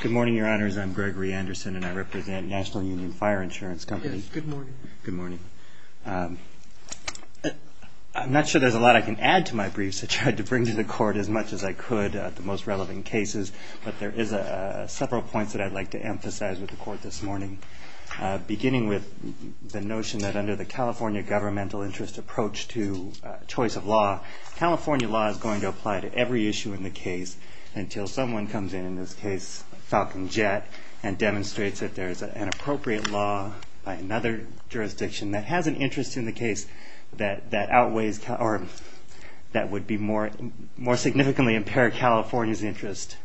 Good morning, Your Honors. I'm Gregory Anderson, and I represent National Union Fire Insurance Company. Yes, good morning. Good morning. I'm not sure there's a lot I can add to my briefs, so I tried to bring to the Court as much as I could, the most relevant cases. But there is several points that I'd like to emphasize with the Court this morning, beginning with the notion that under the California governmental interest approach to choice of law, California law is going to apply to every issue in the case until someone comes in, in this case Falcon Jet, and demonstrates that there is an appropriate law by another jurisdiction that has an interest in the case that outweighs or that would be more significantly impair California's interest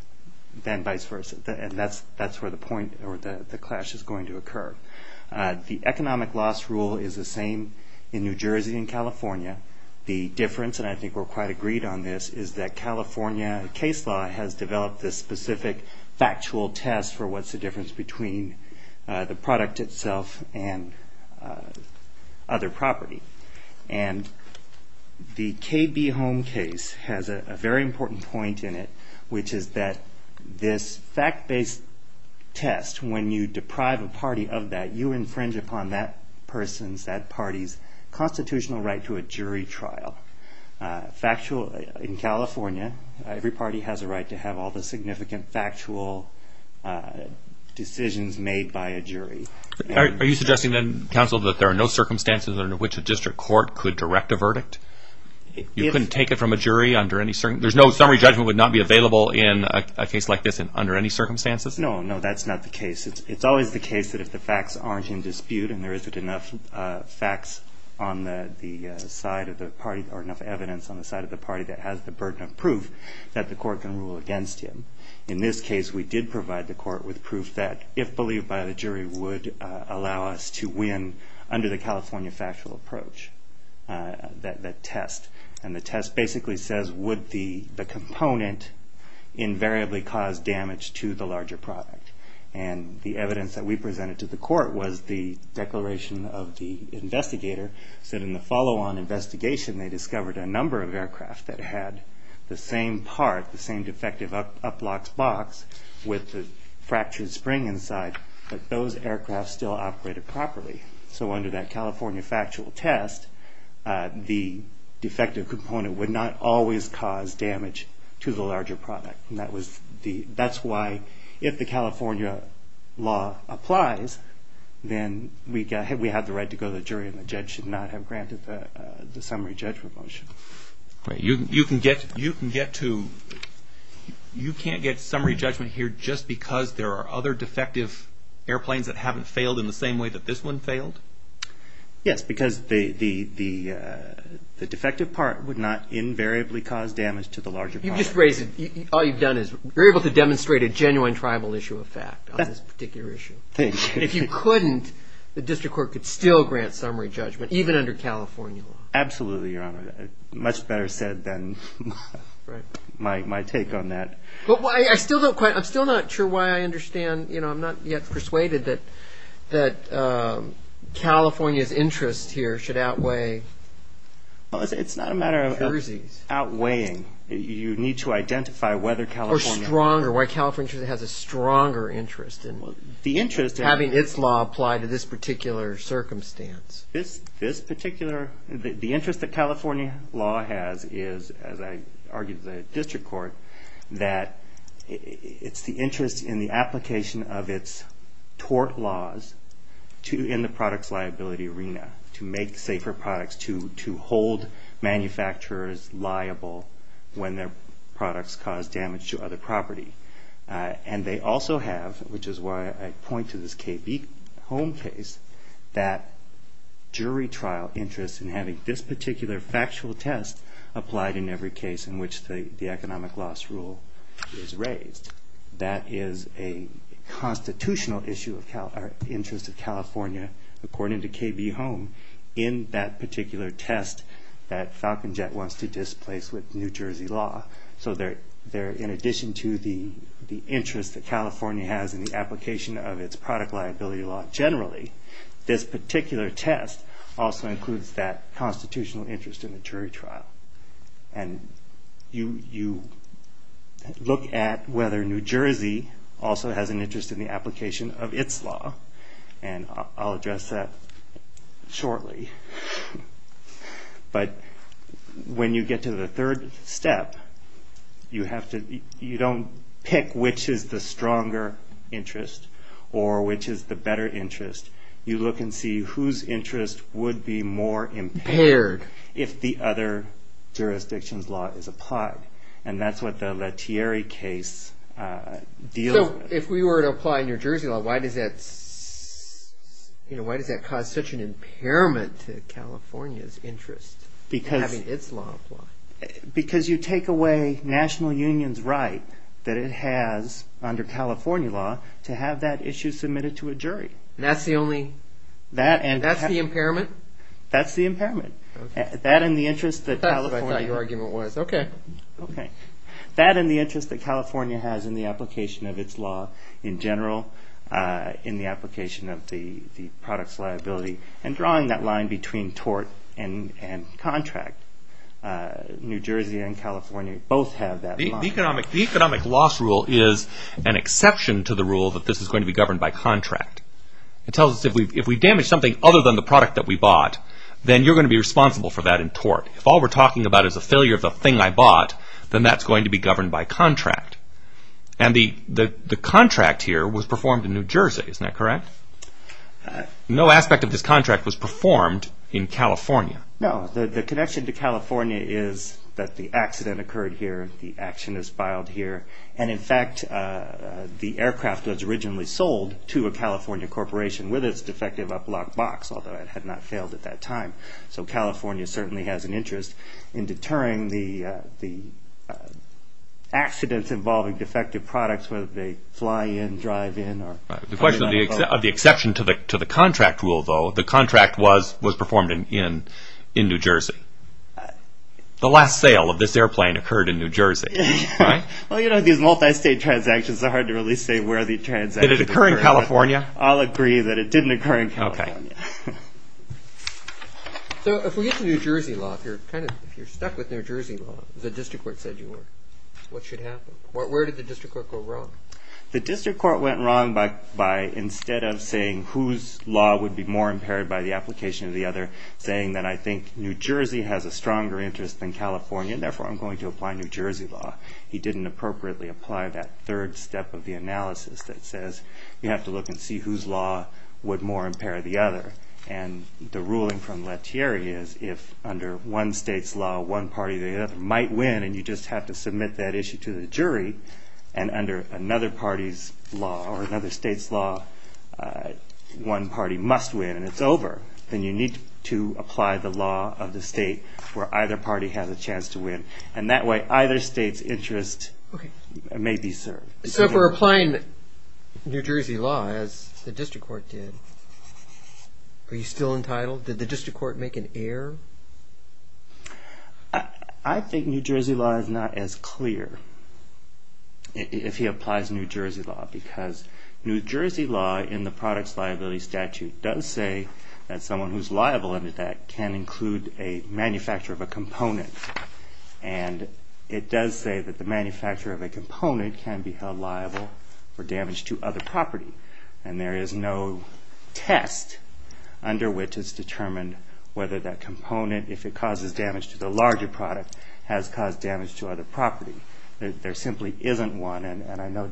than vice versa. And that's where the point or the clash is going to occur. The economic loss rule is the same in New Jersey and California. The difference, and I think we're quite agreed on this, is that California case law has developed this specific factual test for what's the difference between the product itself and other property. And the KB Home case has a very important point in it, which is that this fact-based test, when you deprive a party of that, you infringe upon that person's, that party's constitutional right to a jury trial. In California, every party has a right to have all the significant factual decisions made by a jury. Are you suggesting then, counsel, that there are no circumstances under which a district court could direct a verdict? You couldn't take it from a jury under any certain... There's no summary judgment would not be available in a case like this under any circumstances? No, no, that's not the case. It's always the case that if the facts aren't in dispute and there isn't enough facts on the side of the party or enough evidence on the side of the party that has the burden of proof that the court can rule against him. In this case, we did provide the court with proof that, if believed by the jury, would allow us to win under the California factual approach, that test. And the test basically says, would the component invariably cause damage to the larger product? And the evidence that we presented to the court was the declaration of the investigator, said in the follow-on investigation they discovered a number of aircraft that had the same part, the same defective up-locks box with the fractured spring inside, but those aircraft still operated properly. So under that California factual test, the defective component would not always cause damage to the larger product. And that's why, if the California law applies, then we have the right to go to the jury and the judge should not have granted the summary judgment motion. You can't get summary judgment here just because there are other defective airplanes that haven't failed in the same way that this one failed? Yes, because the defective part would not invariably cause damage to the larger product. You've just raised it. All you've done is you're able to demonstrate a genuine tribal issue of fact on this particular issue. Thank you. And if you couldn't, the district court could still grant summary judgment, even under California law. Absolutely, Your Honor. Much better said than my take on that. I'm still not sure why I understand. I'm not yet persuaded that California's interest here should outweigh Jersey's. It's not a matter of outweighing. You need to identify whether California... Or stronger, why California has a stronger interest in having its law apply to this particular circumstance. The interest that California law has is, as I argued to the district court, that it's the interest in the application of its tort laws in the products liability arena to make safer products, to hold manufacturers liable when their products cause damage to other property. And they also have, which is why I point to this KB Home case, that jury trial interest in having this particular factual test applied in every case in which the economic loss rule is raised. That is a constitutional interest of California, according to KB Home, in that particular test that Falcon Jet wants to displace with New Jersey law. So in addition to the interest that California has in the application of its product liability law generally, this particular test also includes that constitutional interest in the jury trial. And you look at whether New Jersey also has an interest in the application of its law, and I'll address that shortly. But when you get to the third step, you don't pick which is the stronger interest or which is the better interest. You look and see whose interest would be more impaired if the other jurisdiction's law is applied. And that's what the Lettieri case deals with. But if we were to apply New Jersey law, why does that cause such an impairment to California's interest in having its law applied? Because you take away national union's right that it has under California law to have that issue submitted to a jury. That's the impairment? That's the impairment. That's what I thought your argument was. That and the interest that California has in the application of its law in general, in the application of the product's liability, and drawing that line between tort and contract, New Jersey and California both have that line. The economic loss rule is an exception to the rule that this is going to be governed by contract. It tells us if we damage something other than the product that we bought, if all we're talking about is a failure of the thing I bought, then that's going to be governed by contract. And the contract here was performed in New Jersey, isn't that correct? No aspect of this contract was performed in California. No, the connection to California is that the accident occurred here, the action is filed here, and in fact the aircraft was originally sold to a California corporation with its defective up-lock box, although it had not failed at that time. So California certainly has an interest in deterring the accidents involving defective products, whether they fly in, drive in, or come in and go. The question of the exception to the contract rule, though, the contract was performed in New Jersey. The last sale of this airplane occurred in New Jersey. Well, you know, these multi-state transactions are hard to really say where the transactions occurred. Did it occur in California? I'll agree that it didn't occur in California. Okay. So if we get to New Jersey law, if you're stuck with New Jersey law, the district court said you were, what should happen? Where did the district court go wrong? The district court went wrong by instead of saying whose law would be more impaired by the application of the other, saying that I think New Jersey has a stronger interest than California, and therefore I'm going to apply New Jersey law. He didn't appropriately apply that third step of the analysis that says you have to look and see whose law would more impair the other, and the ruling from Lettieri is if under one state's law one party or the other might win and you just have to submit that issue to the jury, and under another party's law or another state's law one party must win and it's over, then you need to apply the law of the state where either party has a chance to win, and that way either state's interest may be served. So if we're applying New Jersey law as the district court did, are you still entitled? Did the district court make an error? I think New Jersey law is not as clear if he applies New Jersey law because New Jersey law in the products liability statute does say that someone who's liable under that can include a manufacturer of a component, and it does say that the manufacturer of a component can be held liable for damage to other property, and there is no test under which it's determined whether that component, if it causes damage to the larger product, has caused damage to other property. There simply isn't one, and I know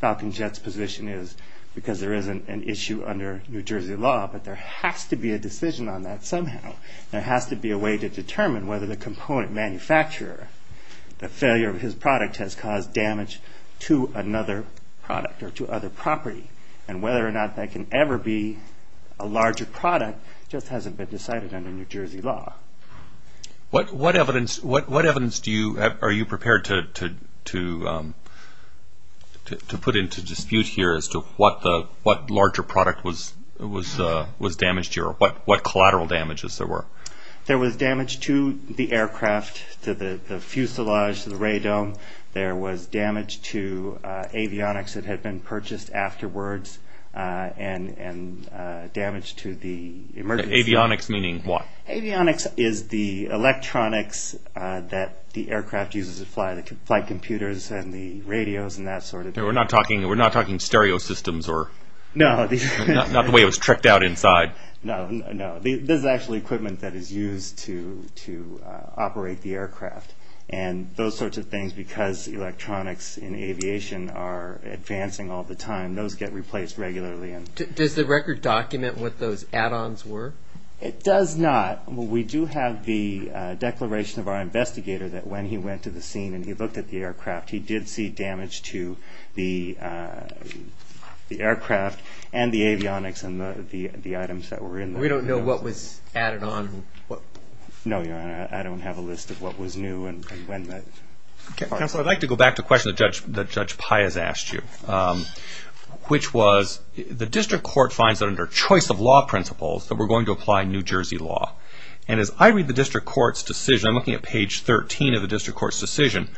Falcon Jet's position is because there isn't an issue under New Jersey law, but there has to be a decision on that somehow. There has to be a way to determine whether the component manufacturer, the failure of his product has caused damage to another product or to other property, and whether or not that can ever be a larger product just hasn't been decided under New Jersey law. What evidence are you prepared to put into dispute here as to what larger product was damaged here or what collateral damages there were? There was damage to the aircraft, to the fuselage, to the ray dome. There was damage to avionics that had been purchased afterwards and damage to the emergency. Avionics meaning what? Avionics is the electronics that the aircraft uses to fly, the flight computers and the radios and that sort of thing. We're not talking stereo systems, not the way it was tricked out inside. No, this is actually equipment that is used to operate the aircraft, and those sorts of things, because electronics in aviation are advancing all the time, those get replaced regularly. Does the record document what those add-ons were? It does not. We do have the declaration of our investigator that when he went to the scene and he looked at the aircraft, he did see damage to the aircraft and the avionics and the items that were in there. We don't know what was added on? No, Your Honor, I don't have a list of what was new and when. Counselor, I'd like to go back to a question that Judge Pye has asked you, which was the district court finds that under choice of law principles that we're going to apply New Jersey law, and as I read the district court's decision, I'm looking at page 13 of the district court's decision,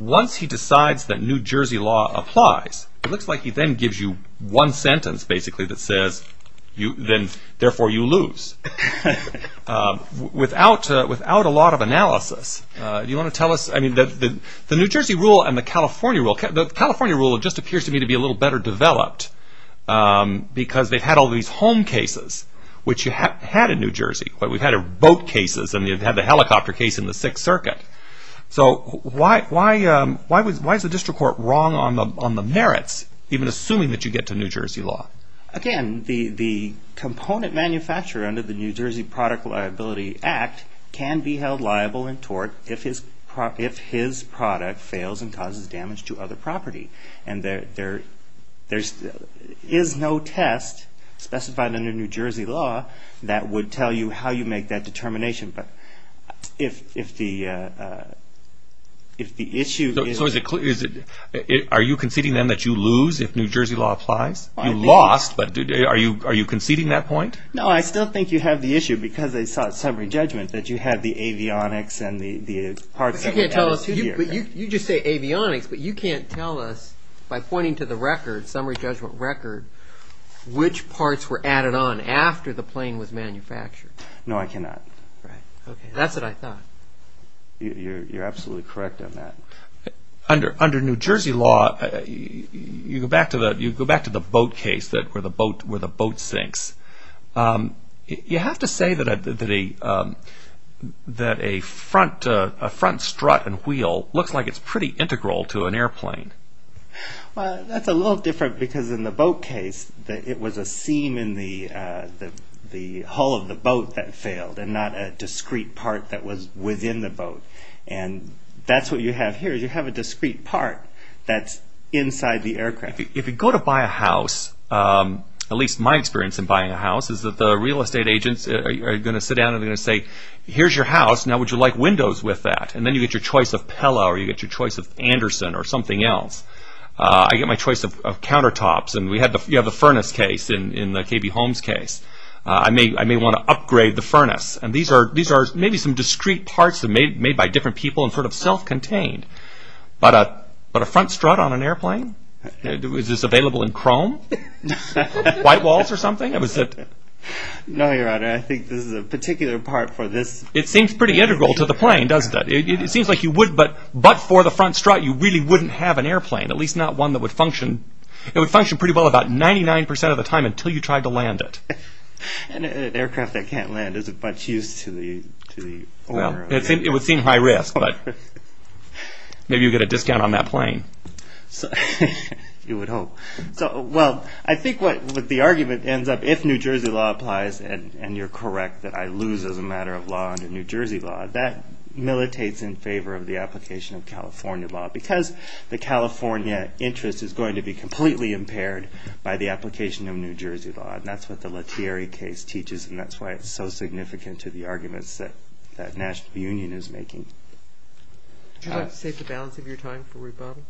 once he decides that New Jersey law applies, it looks like he then gives you one sentence, basically, that says, therefore you lose. Without a lot of analysis, do you want to tell us, I mean, the New Jersey rule and the California rule, the California rule just appears to me to be a little better developed, because they've had all these home cases, which you had in New Jersey, but we've had boat cases and you've had the helicopter case in the Sixth Circuit. So why is the district court wrong on the merits, even assuming that you get to New Jersey law? Again, the component manufacturer under the New Jersey Product Liability Act can be held liable in tort if his product fails and causes damage to other property. And there is no test specified under New Jersey law that would tell you how you make that determination. But if the issue is... So are you conceding, then, that you lose if New Jersey law applies? You lost, but are you conceding that point? No, I still think you have the issue, because they sought summary judgment, that you have the avionics and the parts that were added here. You just say avionics, but you can't tell us, by pointing to the record, summary judgment record, which parts were added on after the plane was manufactured. No, I cannot. That's what I thought. You're absolutely correct on that. Under New Jersey law, you go back to the boat case, where the boat sinks. You have to say that a front strut and wheel looks like it's pretty integral to an airplane. That's a little different, because in the boat case, it was a seam in the hull of the boat that failed, and not a discrete part that was within the boat. And that's what you have here. You have a discrete part that's inside the aircraft. If you go to buy a house, at least my experience in buying a house, is that the real estate agents are going to sit down and they're going to say, here's your house, now would you like windows with that? And then you get your choice of Pella, or you get your choice of Anderson, or something else. I get my choice of countertops, and you have the furnace case in the KB Holmes case. I may want to upgrade the furnace. And these are maybe some discrete parts made by different people and sort of self-contained. But a front strut on an airplane? Is this available in Chrome? White walls or something? No, Your Honor, I think this is a particular part for this. It seems pretty integral to the plane, doesn't it? It seems like you would, but for the front strut, you really wouldn't have an airplane, at least not one that would function. It would function pretty well about 99% of the time until you tried to land it. An aircraft that can't land isn't much use to the owner. It would seem high risk, but maybe you'd get a discount on that plane. You would hope. Well, I think what the argument ends up, if New Jersey law applies, and you're correct that I lose as a matter of law under New Jersey law, that militates in favor of the application of California law because the California interest is going to be completely impaired by the application of New Jersey law. That's what the Lettieri case teaches, and that's why it's so significant to the arguments that the National Union is making. Would you like to save the balance of your time for rebuttal?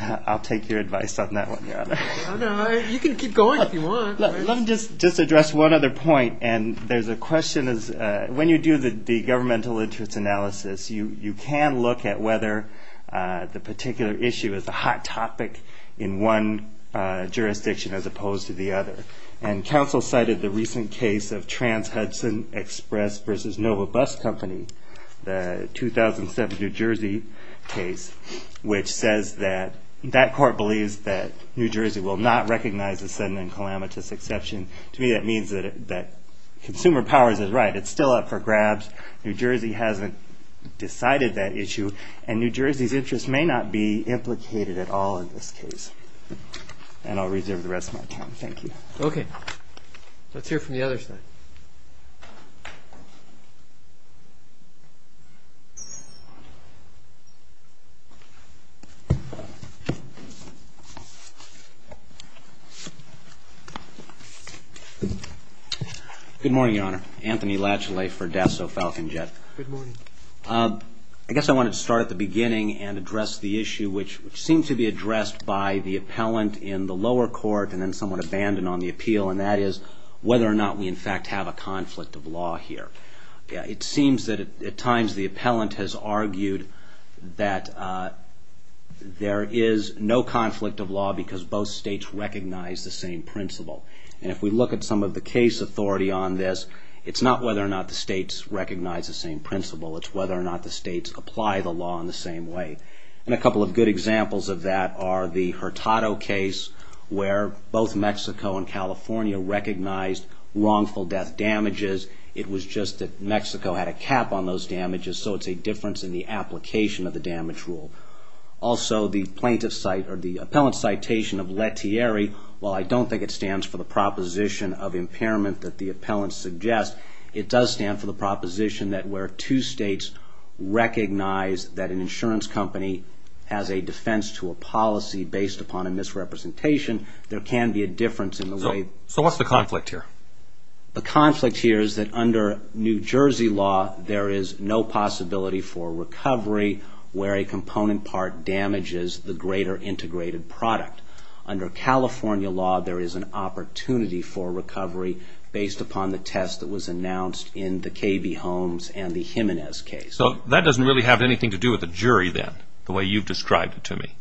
I'll take your advice on that one, Your Honor. You can keep going if you want. Let me just address one other point, and there's a question. When you do the governmental interest analysis, you can look at whether the particular issue is a hot topic in one jurisdiction as opposed to the other. And counsel cited the recent case of Trans-Hudson Express v. Nova Bus Company, the 2007 New Jersey case, which says that that court believes that New Jersey will not recognize a sudden and calamitous exception. To me, that means that Consumer Powers is right. It's still up for grabs. New Jersey hasn't decided that issue, and New Jersey's interest may not be implicated at all in this case. And I'll reserve the rest of my time. Thank you. Okay. Let's hear from the other side. Good morning, Your Honor. Anthony Latchley for DASO Falcon Jet. Good morning. I guess I wanted to start at the beginning and address the issue, which seems to be addressed by the appellant in the lower court and then somewhat abandoned on the appeal, and that is whether or not we, in fact, have a conflict of law here. It seems that at times the appellant has argued that there is no conflict of law because both states recognize the same principle. And if we look at some of the case authority on this, it's not whether or not the states recognize the same principle. It's whether or not the states apply the law in the same way. And a couple of good examples of that are the Hurtado case, where both Mexico and California recognized wrongful death damages. It was just that Mexico had a cap on those damages, so it's a difference in the application of the damage rule. Also, the plaintiff's cite or the appellant's citation of Lettieri, while I don't think it stands for the proposition of impairment that the appellant suggests, it does stand for the proposition that where two states recognize that an insurance company has a defense to a policy based upon a misrepresentation, there can be a difference in the way... So what's the conflict here? The conflict here is that under New Jersey law, there is no possibility for recovery where a component part damages the greater integrated product. Under California law, there is an opportunity for recovery based upon the test that was announced in the KB Holmes and the Jimenez case. So that doesn't really have anything to do with the jury then, the way you've described it to me.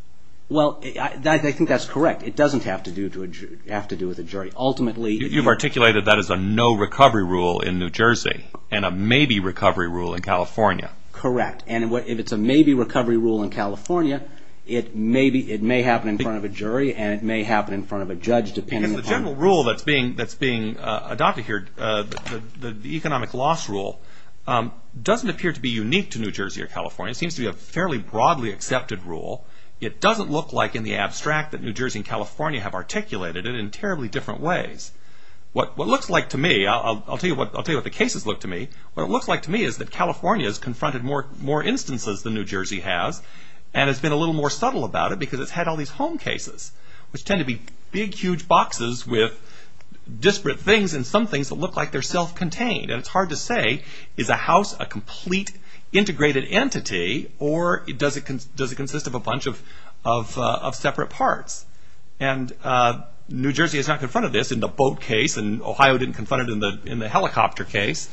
Well, I think that's correct. It doesn't have to do with the jury. Ultimately... You've articulated that as a no recovery rule in New Jersey and a maybe recovery rule in California. Correct. And if it's a maybe recovery rule in California, it may happen in front of a jury and it may happen in front of a judge depending upon... Because the general rule that's being adopted here, the economic loss rule, doesn't appear to be unique to New Jersey or California. It seems to be a fairly broadly accepted rule. It doesn't look like in the abstract that New Jersey and California have articulated it in terribly different ways. What it looks like to me, I'll tell you what the cases look to me, what it looks like to me is that California has confronted more instances than New Jersey has and has been a little more subtle about it because it's had all these home cases, which tend to be big, huge boxes with disparate things and some things that look like they're self-contained. And it's hard to say, is a house a complete integrated entity or does it consist of a bunch of separate parts? And New Jersey has not confronted this in the boat case and Ohio didn't confront it in the helicopter case.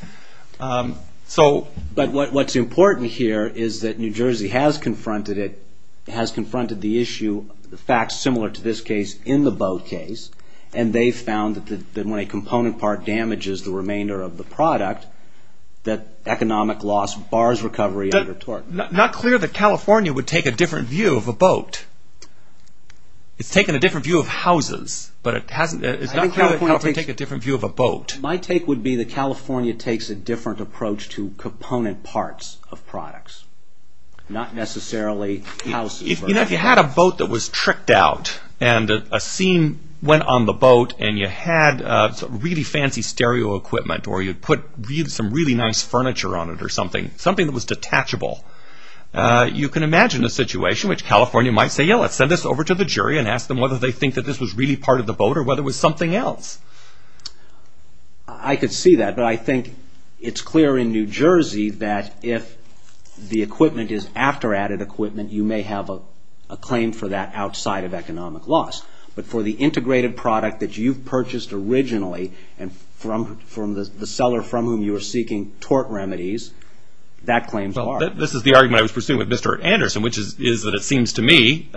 But what's important here is that New Jersey has confronted it, has confronted the issue, the facts similar to this case in the boat case and they found that when a component part damages the remainder of the product, that economic loss bars recovery under tort. Not clear that California would take a different view of a boat. It's taken a different view of houses, but it's not clear that California would take a different view of a boat. My take would be that California takes a different approach to component parts of products, not necessarily houses. If you had a boat that was tricked out and a scene went on the boat and you had really fancy stereo equipment or you put some really nice furniture on it or something, something that was detachable, you can imagine a situation which California might say, yeah, let's send this over to the jury and ask them whether they think that this was really part of the boat or whether it was something else. I could see that, but I think it's clear in New Jersey that if the equipment is after added equipment, you may have a claim for that outside of economic loss. But for the integrated product that you purchased originally and from the seller from whom you were seeking tort remedies, that claims are. This is the argument I was pursuing with Mr. Anderson, which is that it seems to me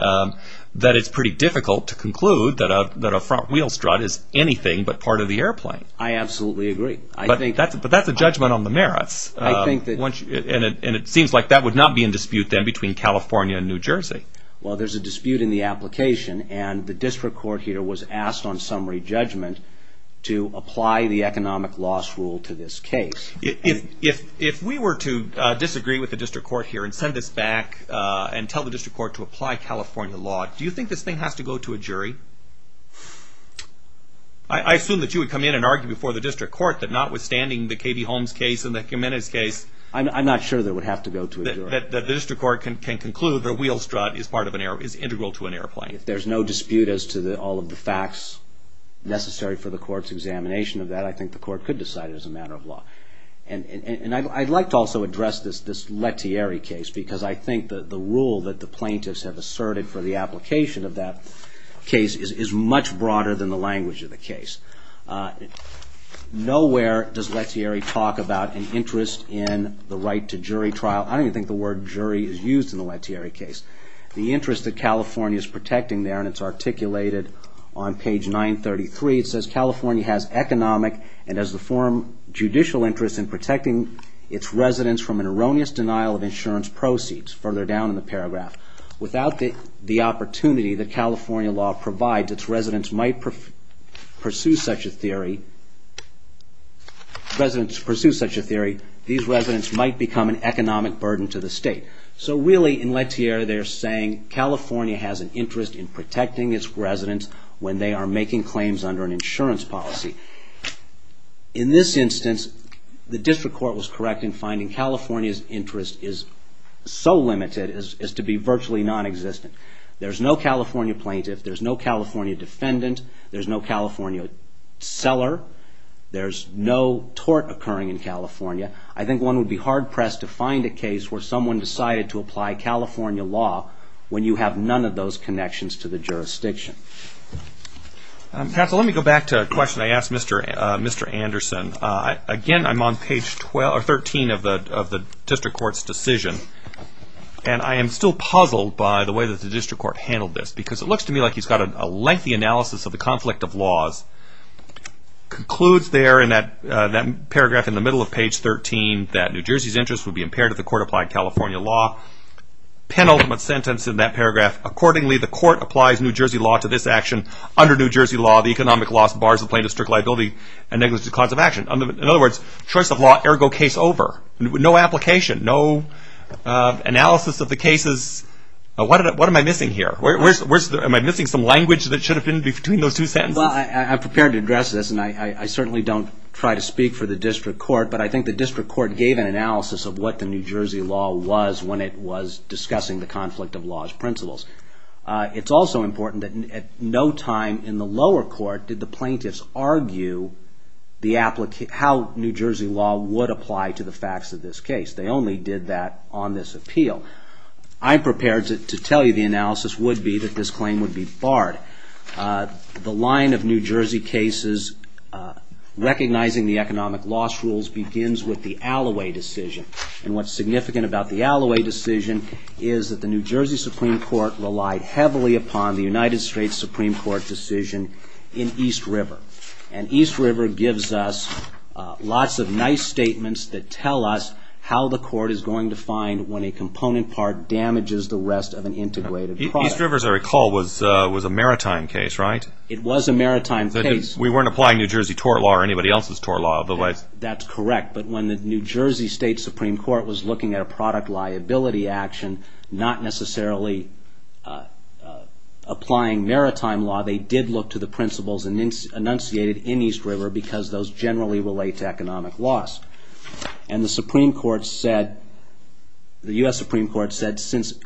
that it's pretty difficult to conclude that a front wheel strut is anything but part of the airplane. I absolutely agree. But that's a judgment on the merits. And it seems like that would not be in dispute then between California and New Jersey. Well, there's a dispute in the application and the district court here was asked on summary judgment to apply the economic loss rule to this case. If we were to disagree with the district court here and send this back and tell the district court to apply California law, do you think this thing has to go to a jury? I assume that you would come in and argue before the district court that notwithstanding the Katie Holmes case and the Jimenez case. I'm not sure that it would have to go to a jury. That the district court can conclude that a wheel strut is integral to an airplane. If there's no dispute as to all of the facts necessary for the court's examination of that, I think the court could decide it as a matter of law. And I'd like to also address this Lettieri case because I think that the rule that the plaintiffs have asserted for the application of that case is much broader than the language of the case. Nowhere does Lettieri talk about an interest in the right to jury trial. I don't even think the word jury is used in the Lettieri case. The interest that California is protecting there, and it's articulated on page 933, it says California has economic and as the forum judicial interest in protecting its residents from an erroneous denial of insurance proceeds. Further down in the paragraph. Without the opportunity that California law provides, its residents might pursue such a theory. These residents might become an economic burden to the state. So really in Lettieri they're saying California has an interest in protecting its residents when they are making claims under an insurance policy. In this instance, the district court was correct in finding California's interest is so limited as to be virtually non-existent. There's no California plaintiff. There's no California defendant. There's no California seller. There's no tort occurring in California. I think one would be hard-pressed to find a case where someone decided to apply California law when you have none of those connections to the jurisdiction. Let me go back to a question I asked Mr. Anderson. Again, I'm on page 13 of the district court's decision. And I am still puzzled by the way that the district court handled this because it looks to me like he's got a lengthy analysis of the conflict of laws. Concludes there in that paragraph in the middle of page 13 that New Jersey's interest would be impaired if the court applied California law. Penultimate sentence in that paragraph. Accordingly, the court applies New Jersey law to this action. Under New Jersey law, the economic loss bars the plaintiff's strict liability and negligent cause of action. In other words, choice of law, ergo case over. No application, no analysis of the cases. What am I missing here? Am I missing some language that should have been between those two sentences? Well, I'm prepared to address this, and I certainly don't try to speak for the district court. But I think the district court gave an analysis of what the New Jersey law was when it was discussing the conflict of laws principles. It's also important that at no time in the lower court did the plaintiffs argue how New Jersey law would apply to the facts of this case. They only did that on this appeal. I'm prepared to tell you the analysis would be that this claim would be barred. The line of New Jersey cases recognizing the economic loss rules begins with the Alloway decision. And what's significant about the Alloway decision is that the New Jersey Supreme Court relied heavily upon the United States Supreme Court decision in East River. And East River gives us lots of nice statements that tell us how the court is going to find when a component part damages the rest of an integrated product. East River, as I recall, was a maritime case, right? It was a maritime case. We weren't applying New Jersey tort law or anybody else's tort law, otherwise. That's correct. But when the New Jersey State Supreme Court was looking at a product liability action, not necessarily applying maritime law, they did look to the principles enunciated in East River because those generally relate to economic loss. And the Supreme Court said, the U.S. Supreme Court said, that since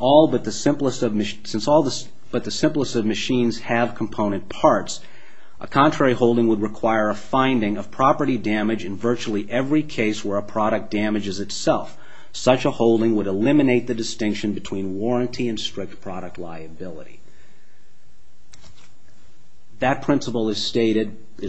all but the simplest of machines have component parts, a contrary holding would require a finding of property damage in virtually every case where a product damages itself. Such a holding would eliminate the distinction between warranty and strict product liability. That principle is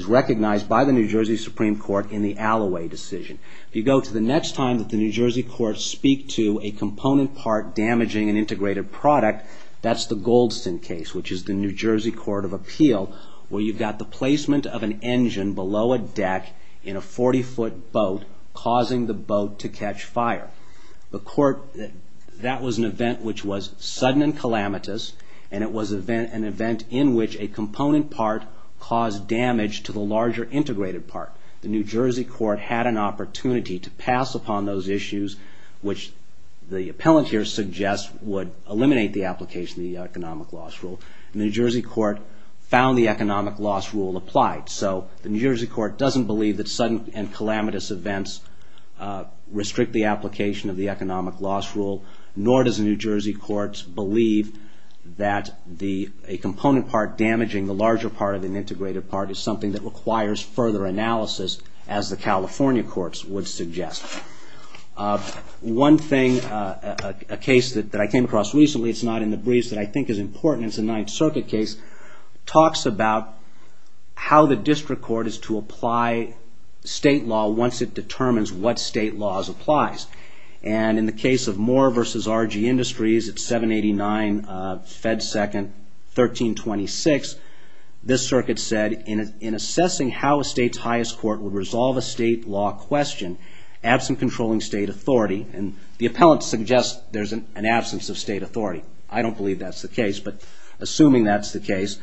recognized by the New Jersey Supreme Court in the Alloway decision. If you go to the next time that the New Jersey courts speak to a component part damaging an integrated product, that's the Goldston case, which is the New Jersey Court of Appeal, where you've got the placement of an engine below a deck in a 40-foot boat, causing the boat to catch fire. That was an event which was sudden and calamitous, and it was an event in which a component part caused damage to the larger integrated part. The New Jersey court had an opportunity to pass upon those issues, which the appellant here suggests would eliminate the application of the economic loss rule. And the New Jersey court found the economic loss rule applied. So the New Jersey court doesn't believe that sudden and calamitous events restrict the application of the economic loss rule, nor does the New Jersey courts believe that a component part damaging the larger part of an integrated part is something that requires further analysis, as the California courts would suggest. One thing, a case that I came across recently, it's not in the briefs, that I think is important, it's a Ninth Circuit case, talks about how the district court is to apply state law once it determines what state laws applies. And in the case of Moore v. RG Industries at 789 Fed 2nd 1326, this circuit said, in assessing how a state's highest court would resolve a state law question, absent controlling state authority, and the appellant suggests there's an absence of state authority. I don't believe that's the case, but assuming that's the case,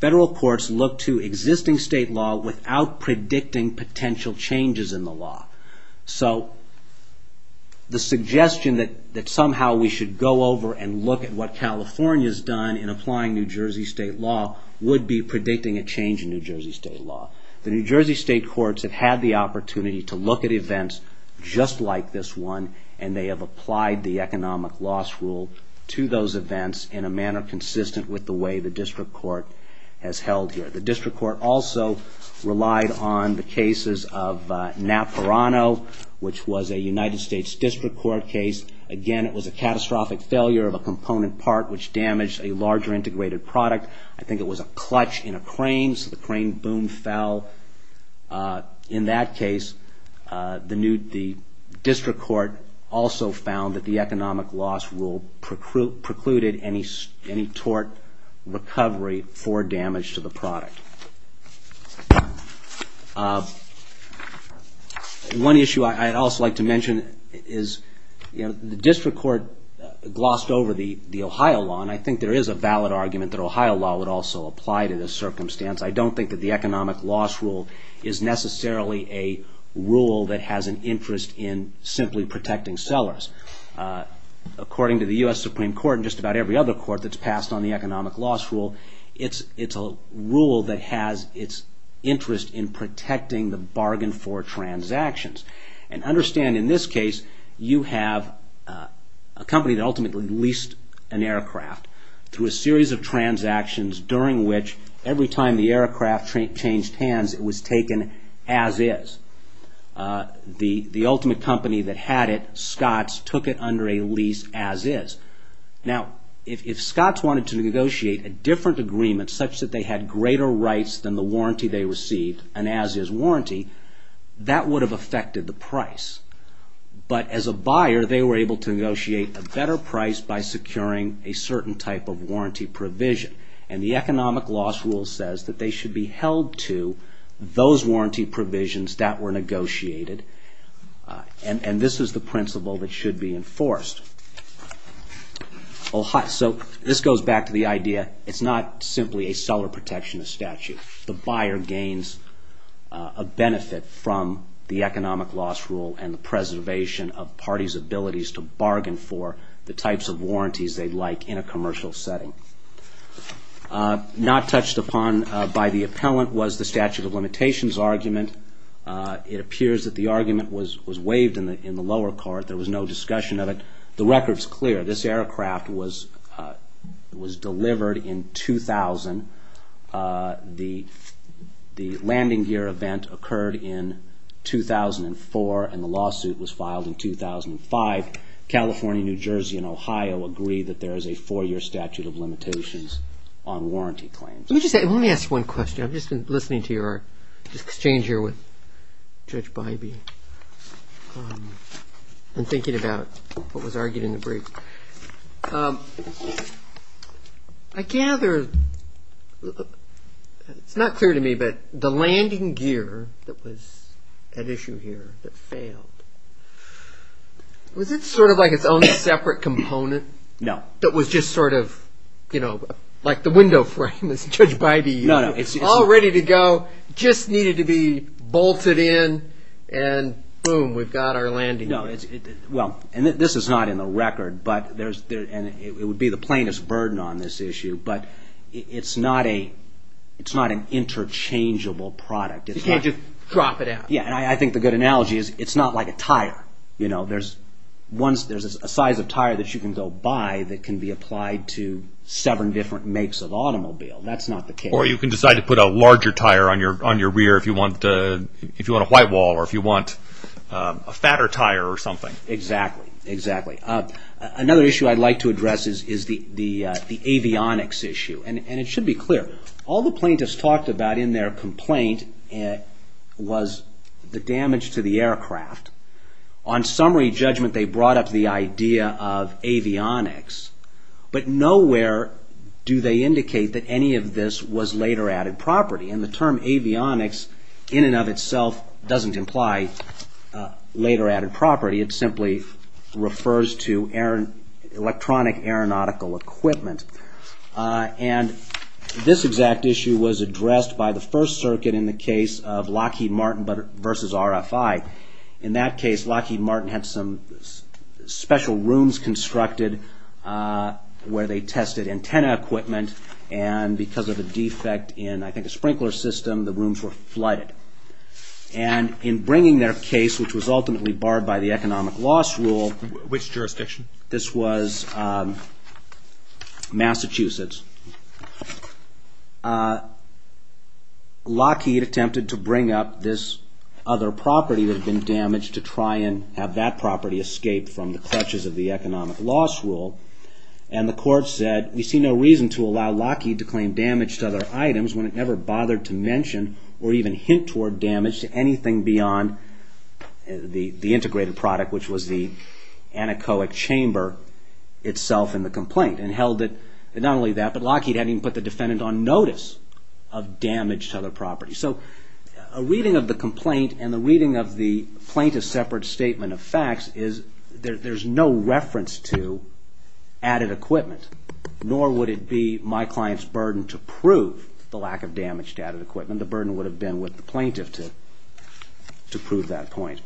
federal courts look to existing state law without predicting potential changes in the law. So the suggestion that somehow we should go over and look at what California's done in applying New Jersey state law would be predicting a change in New Jersey state law. The New Jersey state courts have had the opportunity to look at events just like this one, and they have applied the economic loss rule to those events in a manner consistent with the way the district court has held here. The district court also relied on the cases of Napurano, which was a United States district court case. Again, it was a catastrophic failure of a component part which damaged a larger integrated product. I think it was a clutch in a crane, so the crane boom fell. In that case, the district court also found that the economic loss rule precluded any tort recovery for damage to the product. One issue I'd also like to mention is the district court glossed over the Ohio law, and I think there is a valid argument that Ohio law would also apply to this circumstance. I don't think that the economic loss rule is necessarily a rule that has an interest in simply protecting sellers. According to the U.S. Supreme Court and just about every other court that's passed on the economic loss rule, it's a rule that has its interest in protecting the bargain for transactions. Understand, in this case, you have a company that ultimately leased an aircraft through a series of transactions during which, every time the aircraft changed hands, it was taken as is. The ultimate company that had it, Scotts, took it under a lease as is. Now, if Scotts wanted to negotiate a different agreement, such that they had greater rights than the warranty they received, and as is warranty, that would have affected the price. But as a buyer, they were able to negotiate a better price by securing a certain type of warranty provision. And the economic loss rule says that they should be held to those warranty provisions that were negotiated, and this is the principle that should be enforced. So, this goes back to the idea, it's not simply a seller protectionist statute. The buyer gains a benefit from the economic loss rule and the preservation of parties' abilities to bargain for the types of warranties they'd like in a commercial setting. Not touched upon by the appellant was the statute of limitations argument. It appears that the argument was waived in the lower court. There was no discussion of it. The record's clear. This aircraft was delivered in 2000. The landing gear event occurred in 2004, and the lawsuit was filed in 2005. California, New Jersey, and Ohio agree that there is a four-year statute of limitations on warranty claims. Let me ask one question. I've just been listening to your exchange here with Judge Bybee and thinking about what was argued in the brief. I gather, it's not clear to me, but the landing gear that was at issue here that failed, was it sort of like its own separate component? No. That was just sort of, you know, like the window frame, as Judge Bybee, all ready to go, just needed to be bolted in, and boom, we've got our landing gear. No. Well, and this is not in the record, and it would be the plainest burden on this issue, but it's not an interchangeable product. You can't just drop it out. Yeah, and I think the good analogy is it's not like a tire. You know, there's a size of tire that you can go buy that can be applied to seven different makes of automobile. That's not the case. Or you can decide to put a larger tire on your rear if you want a white wall or if you want a fatter tire or something. Exactly, exactly. Another issue I'd like to address is the avionics issue, and it should be clear. All the plaintiffs talked about in their complaint was the damage to the aircraft. On summary judgment, they brought up the idea of avionics, but nowhere do they indicate that any of this was later added property, and the term avionics in and of itself doesn't imply later added property. It simply refers to electronic aeronautical equipment, and this exact issue was addressed by the First Circuit in the case of Lockheed Martin versus RFI. In that case, Lockheed Martin had some special rooms constructed where they tested antenna equipment, and because of a defect in, I think, a sprinkler system, the rooms were flooded. And in bringing their case, which was ultimately barred by the economic loss rule... Which jurisdiction? This was Massachusetts. Lockheed attempted to bring up this other property that had been damaged to try and have that property escape from the clutches of the economic loss rule, and the court said, we see no reason to allow Lockheed to claim damage to other items when it never bothered to mention or even hint toward damage to anything beyond the integrated product, which was the anechoic chamber itself in the complaint, and held that not only that, but Lockheed hadn't even put the defendant on notice of damage to other property. So a reading of the complaint and a reading of the plaintiff's separate statement of facts is that there's no reference to added equipment, nor would it be my client's burden to prove the lack of damage to added equipment. The burden would have been with the plaintiff to prove that point.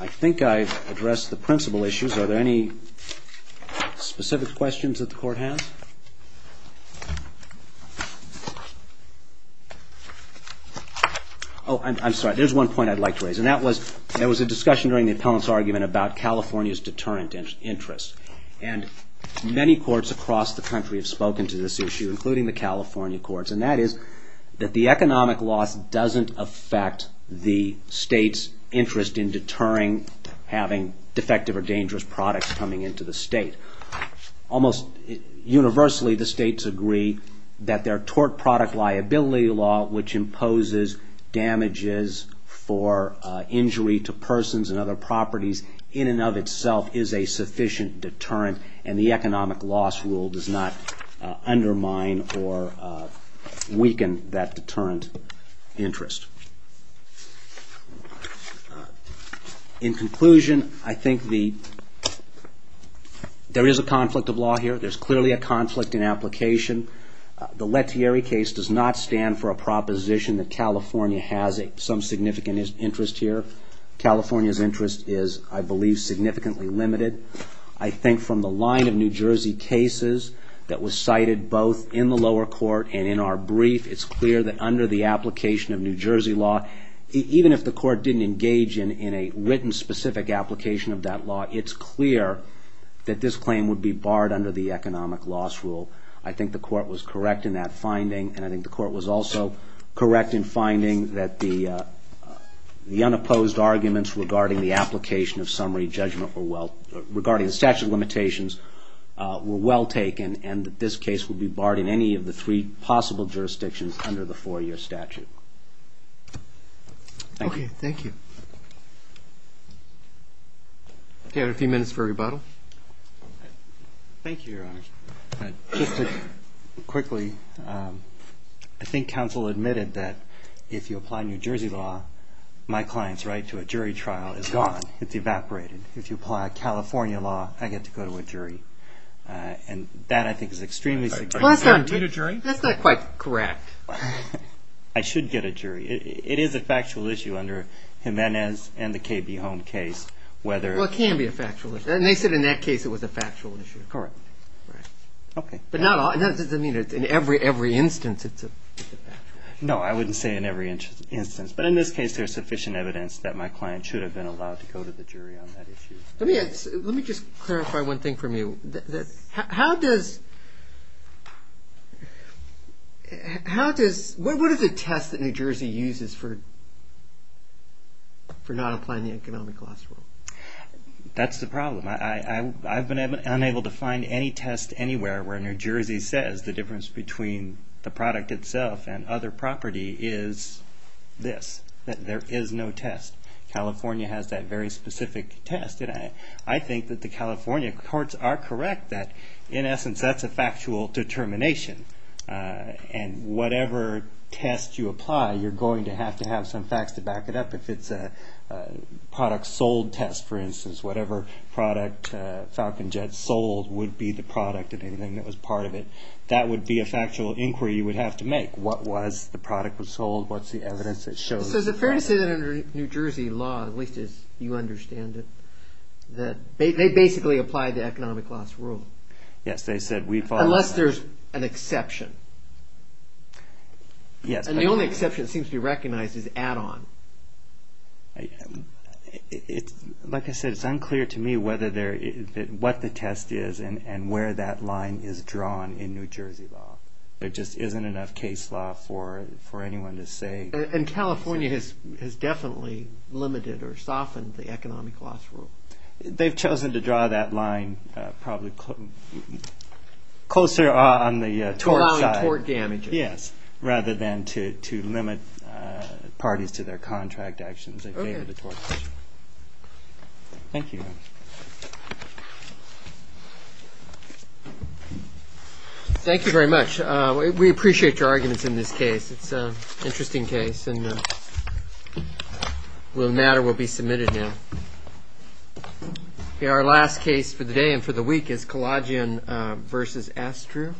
I think I've addressed the principal issues. Are there any specific questions that the court has? Oh, I'm sorry. There's one point I'd like to raise, and that was, there was a discussion during the appellant's argument about California's deterrent interest, and many courts across the country have spoken to this issue, including the California courts, and that is that the economic loss doesn't affect the state's interest in deterring having defective or dangerous products coming into the state. Almost universally, the states agree that their tort product liability law, which imposes damages for injury to persons and other properties, in and of itself is a sufficient deterrent, and the economic loss rule does not undermine or weaken that deterrent interest. In conclusion, I think there is a conflict of law here. There's clearly a conflict in application. The Lettieri case does not stand for a proposition that California has some significant interest here. California's interest is, I believe, significantly limited. I think from the line of New Jersey cases that was cited both in the lower court and in our brief, it's clear that under the application of New Jersey law, even if the court didn't engage in a written specific application of that law, it's clear that this claim would be barred under the economic loss rule. I think the court was correct in that finding, and I think the court was also correct in finding that the unopposed arguments regarding the application of summary judgment regarding the statute of limitations were well taken, and that this case would be barred in any of the three possible jurisdictions under the four-year statute. Thank you. Okay, thank you. We have a few minutes for rebuttal. Thank you, Your Honor. Just quickly, I think counsel admitted that if you apply New Jersey law, my client's right to a jury trial is gone. It's evaporated. If you apply a California law, I get to go to a jury. And that, I think, is extremely significant. That's not quite correct. I should get a jury. It is a factual issue under Jimenez and the KB Home case. Well, it can be a factual issue, and they said in that case it was a factual issue. Correct. Okay. But that doesn't mean in every instance it's a factual issue. No, I wouldn't say in every instance, but in this case there's sufficient evidence that my client should have been allowed to go to the jury on that issue. Let me just clarify one thing from you. How does... What is a test that New Jersey uses for not applying the economic law? That's the problem. I've been unable to find any test anywhere where New Jersey says the difference between the product itself and other property is this, that there is no test. California has that very specific test. And I think that the California courts are correct that, in essence, that's a factual determination. And whatever test you apply, you're going to have to have some facts to back it up. If it's a product sold test, for instance, whatever product Falcon Jet sold would be the product of anything that was part of it. That would be a factual inquiry you would have to make. What was the product was sold? What's the evidence that shows it? So is it fair to say that under New Jersey law, at least as you understand it, that they basically apply the economic loss rule? Yes, they said we follow... Unless there's an exception. And the only exception that seems to be recognized is add-on. Like I said, it's unclear to me what the test is and where that line is drawn in New Jersey law. There just isn't enough case law for anyone to say... And California has definitely limited or softened the economic loss rule. They've chosen to draw that line probably closer on the tort side. Allowing tort damages. Yes, rather than to limit parties to their contract actions. Okay. Thank you. Thank you very much. We appreciate your arguments in this case. It's an interesting case. The matter will be submitted now. Our last case for the day and for the week is Kalajian v. Astru.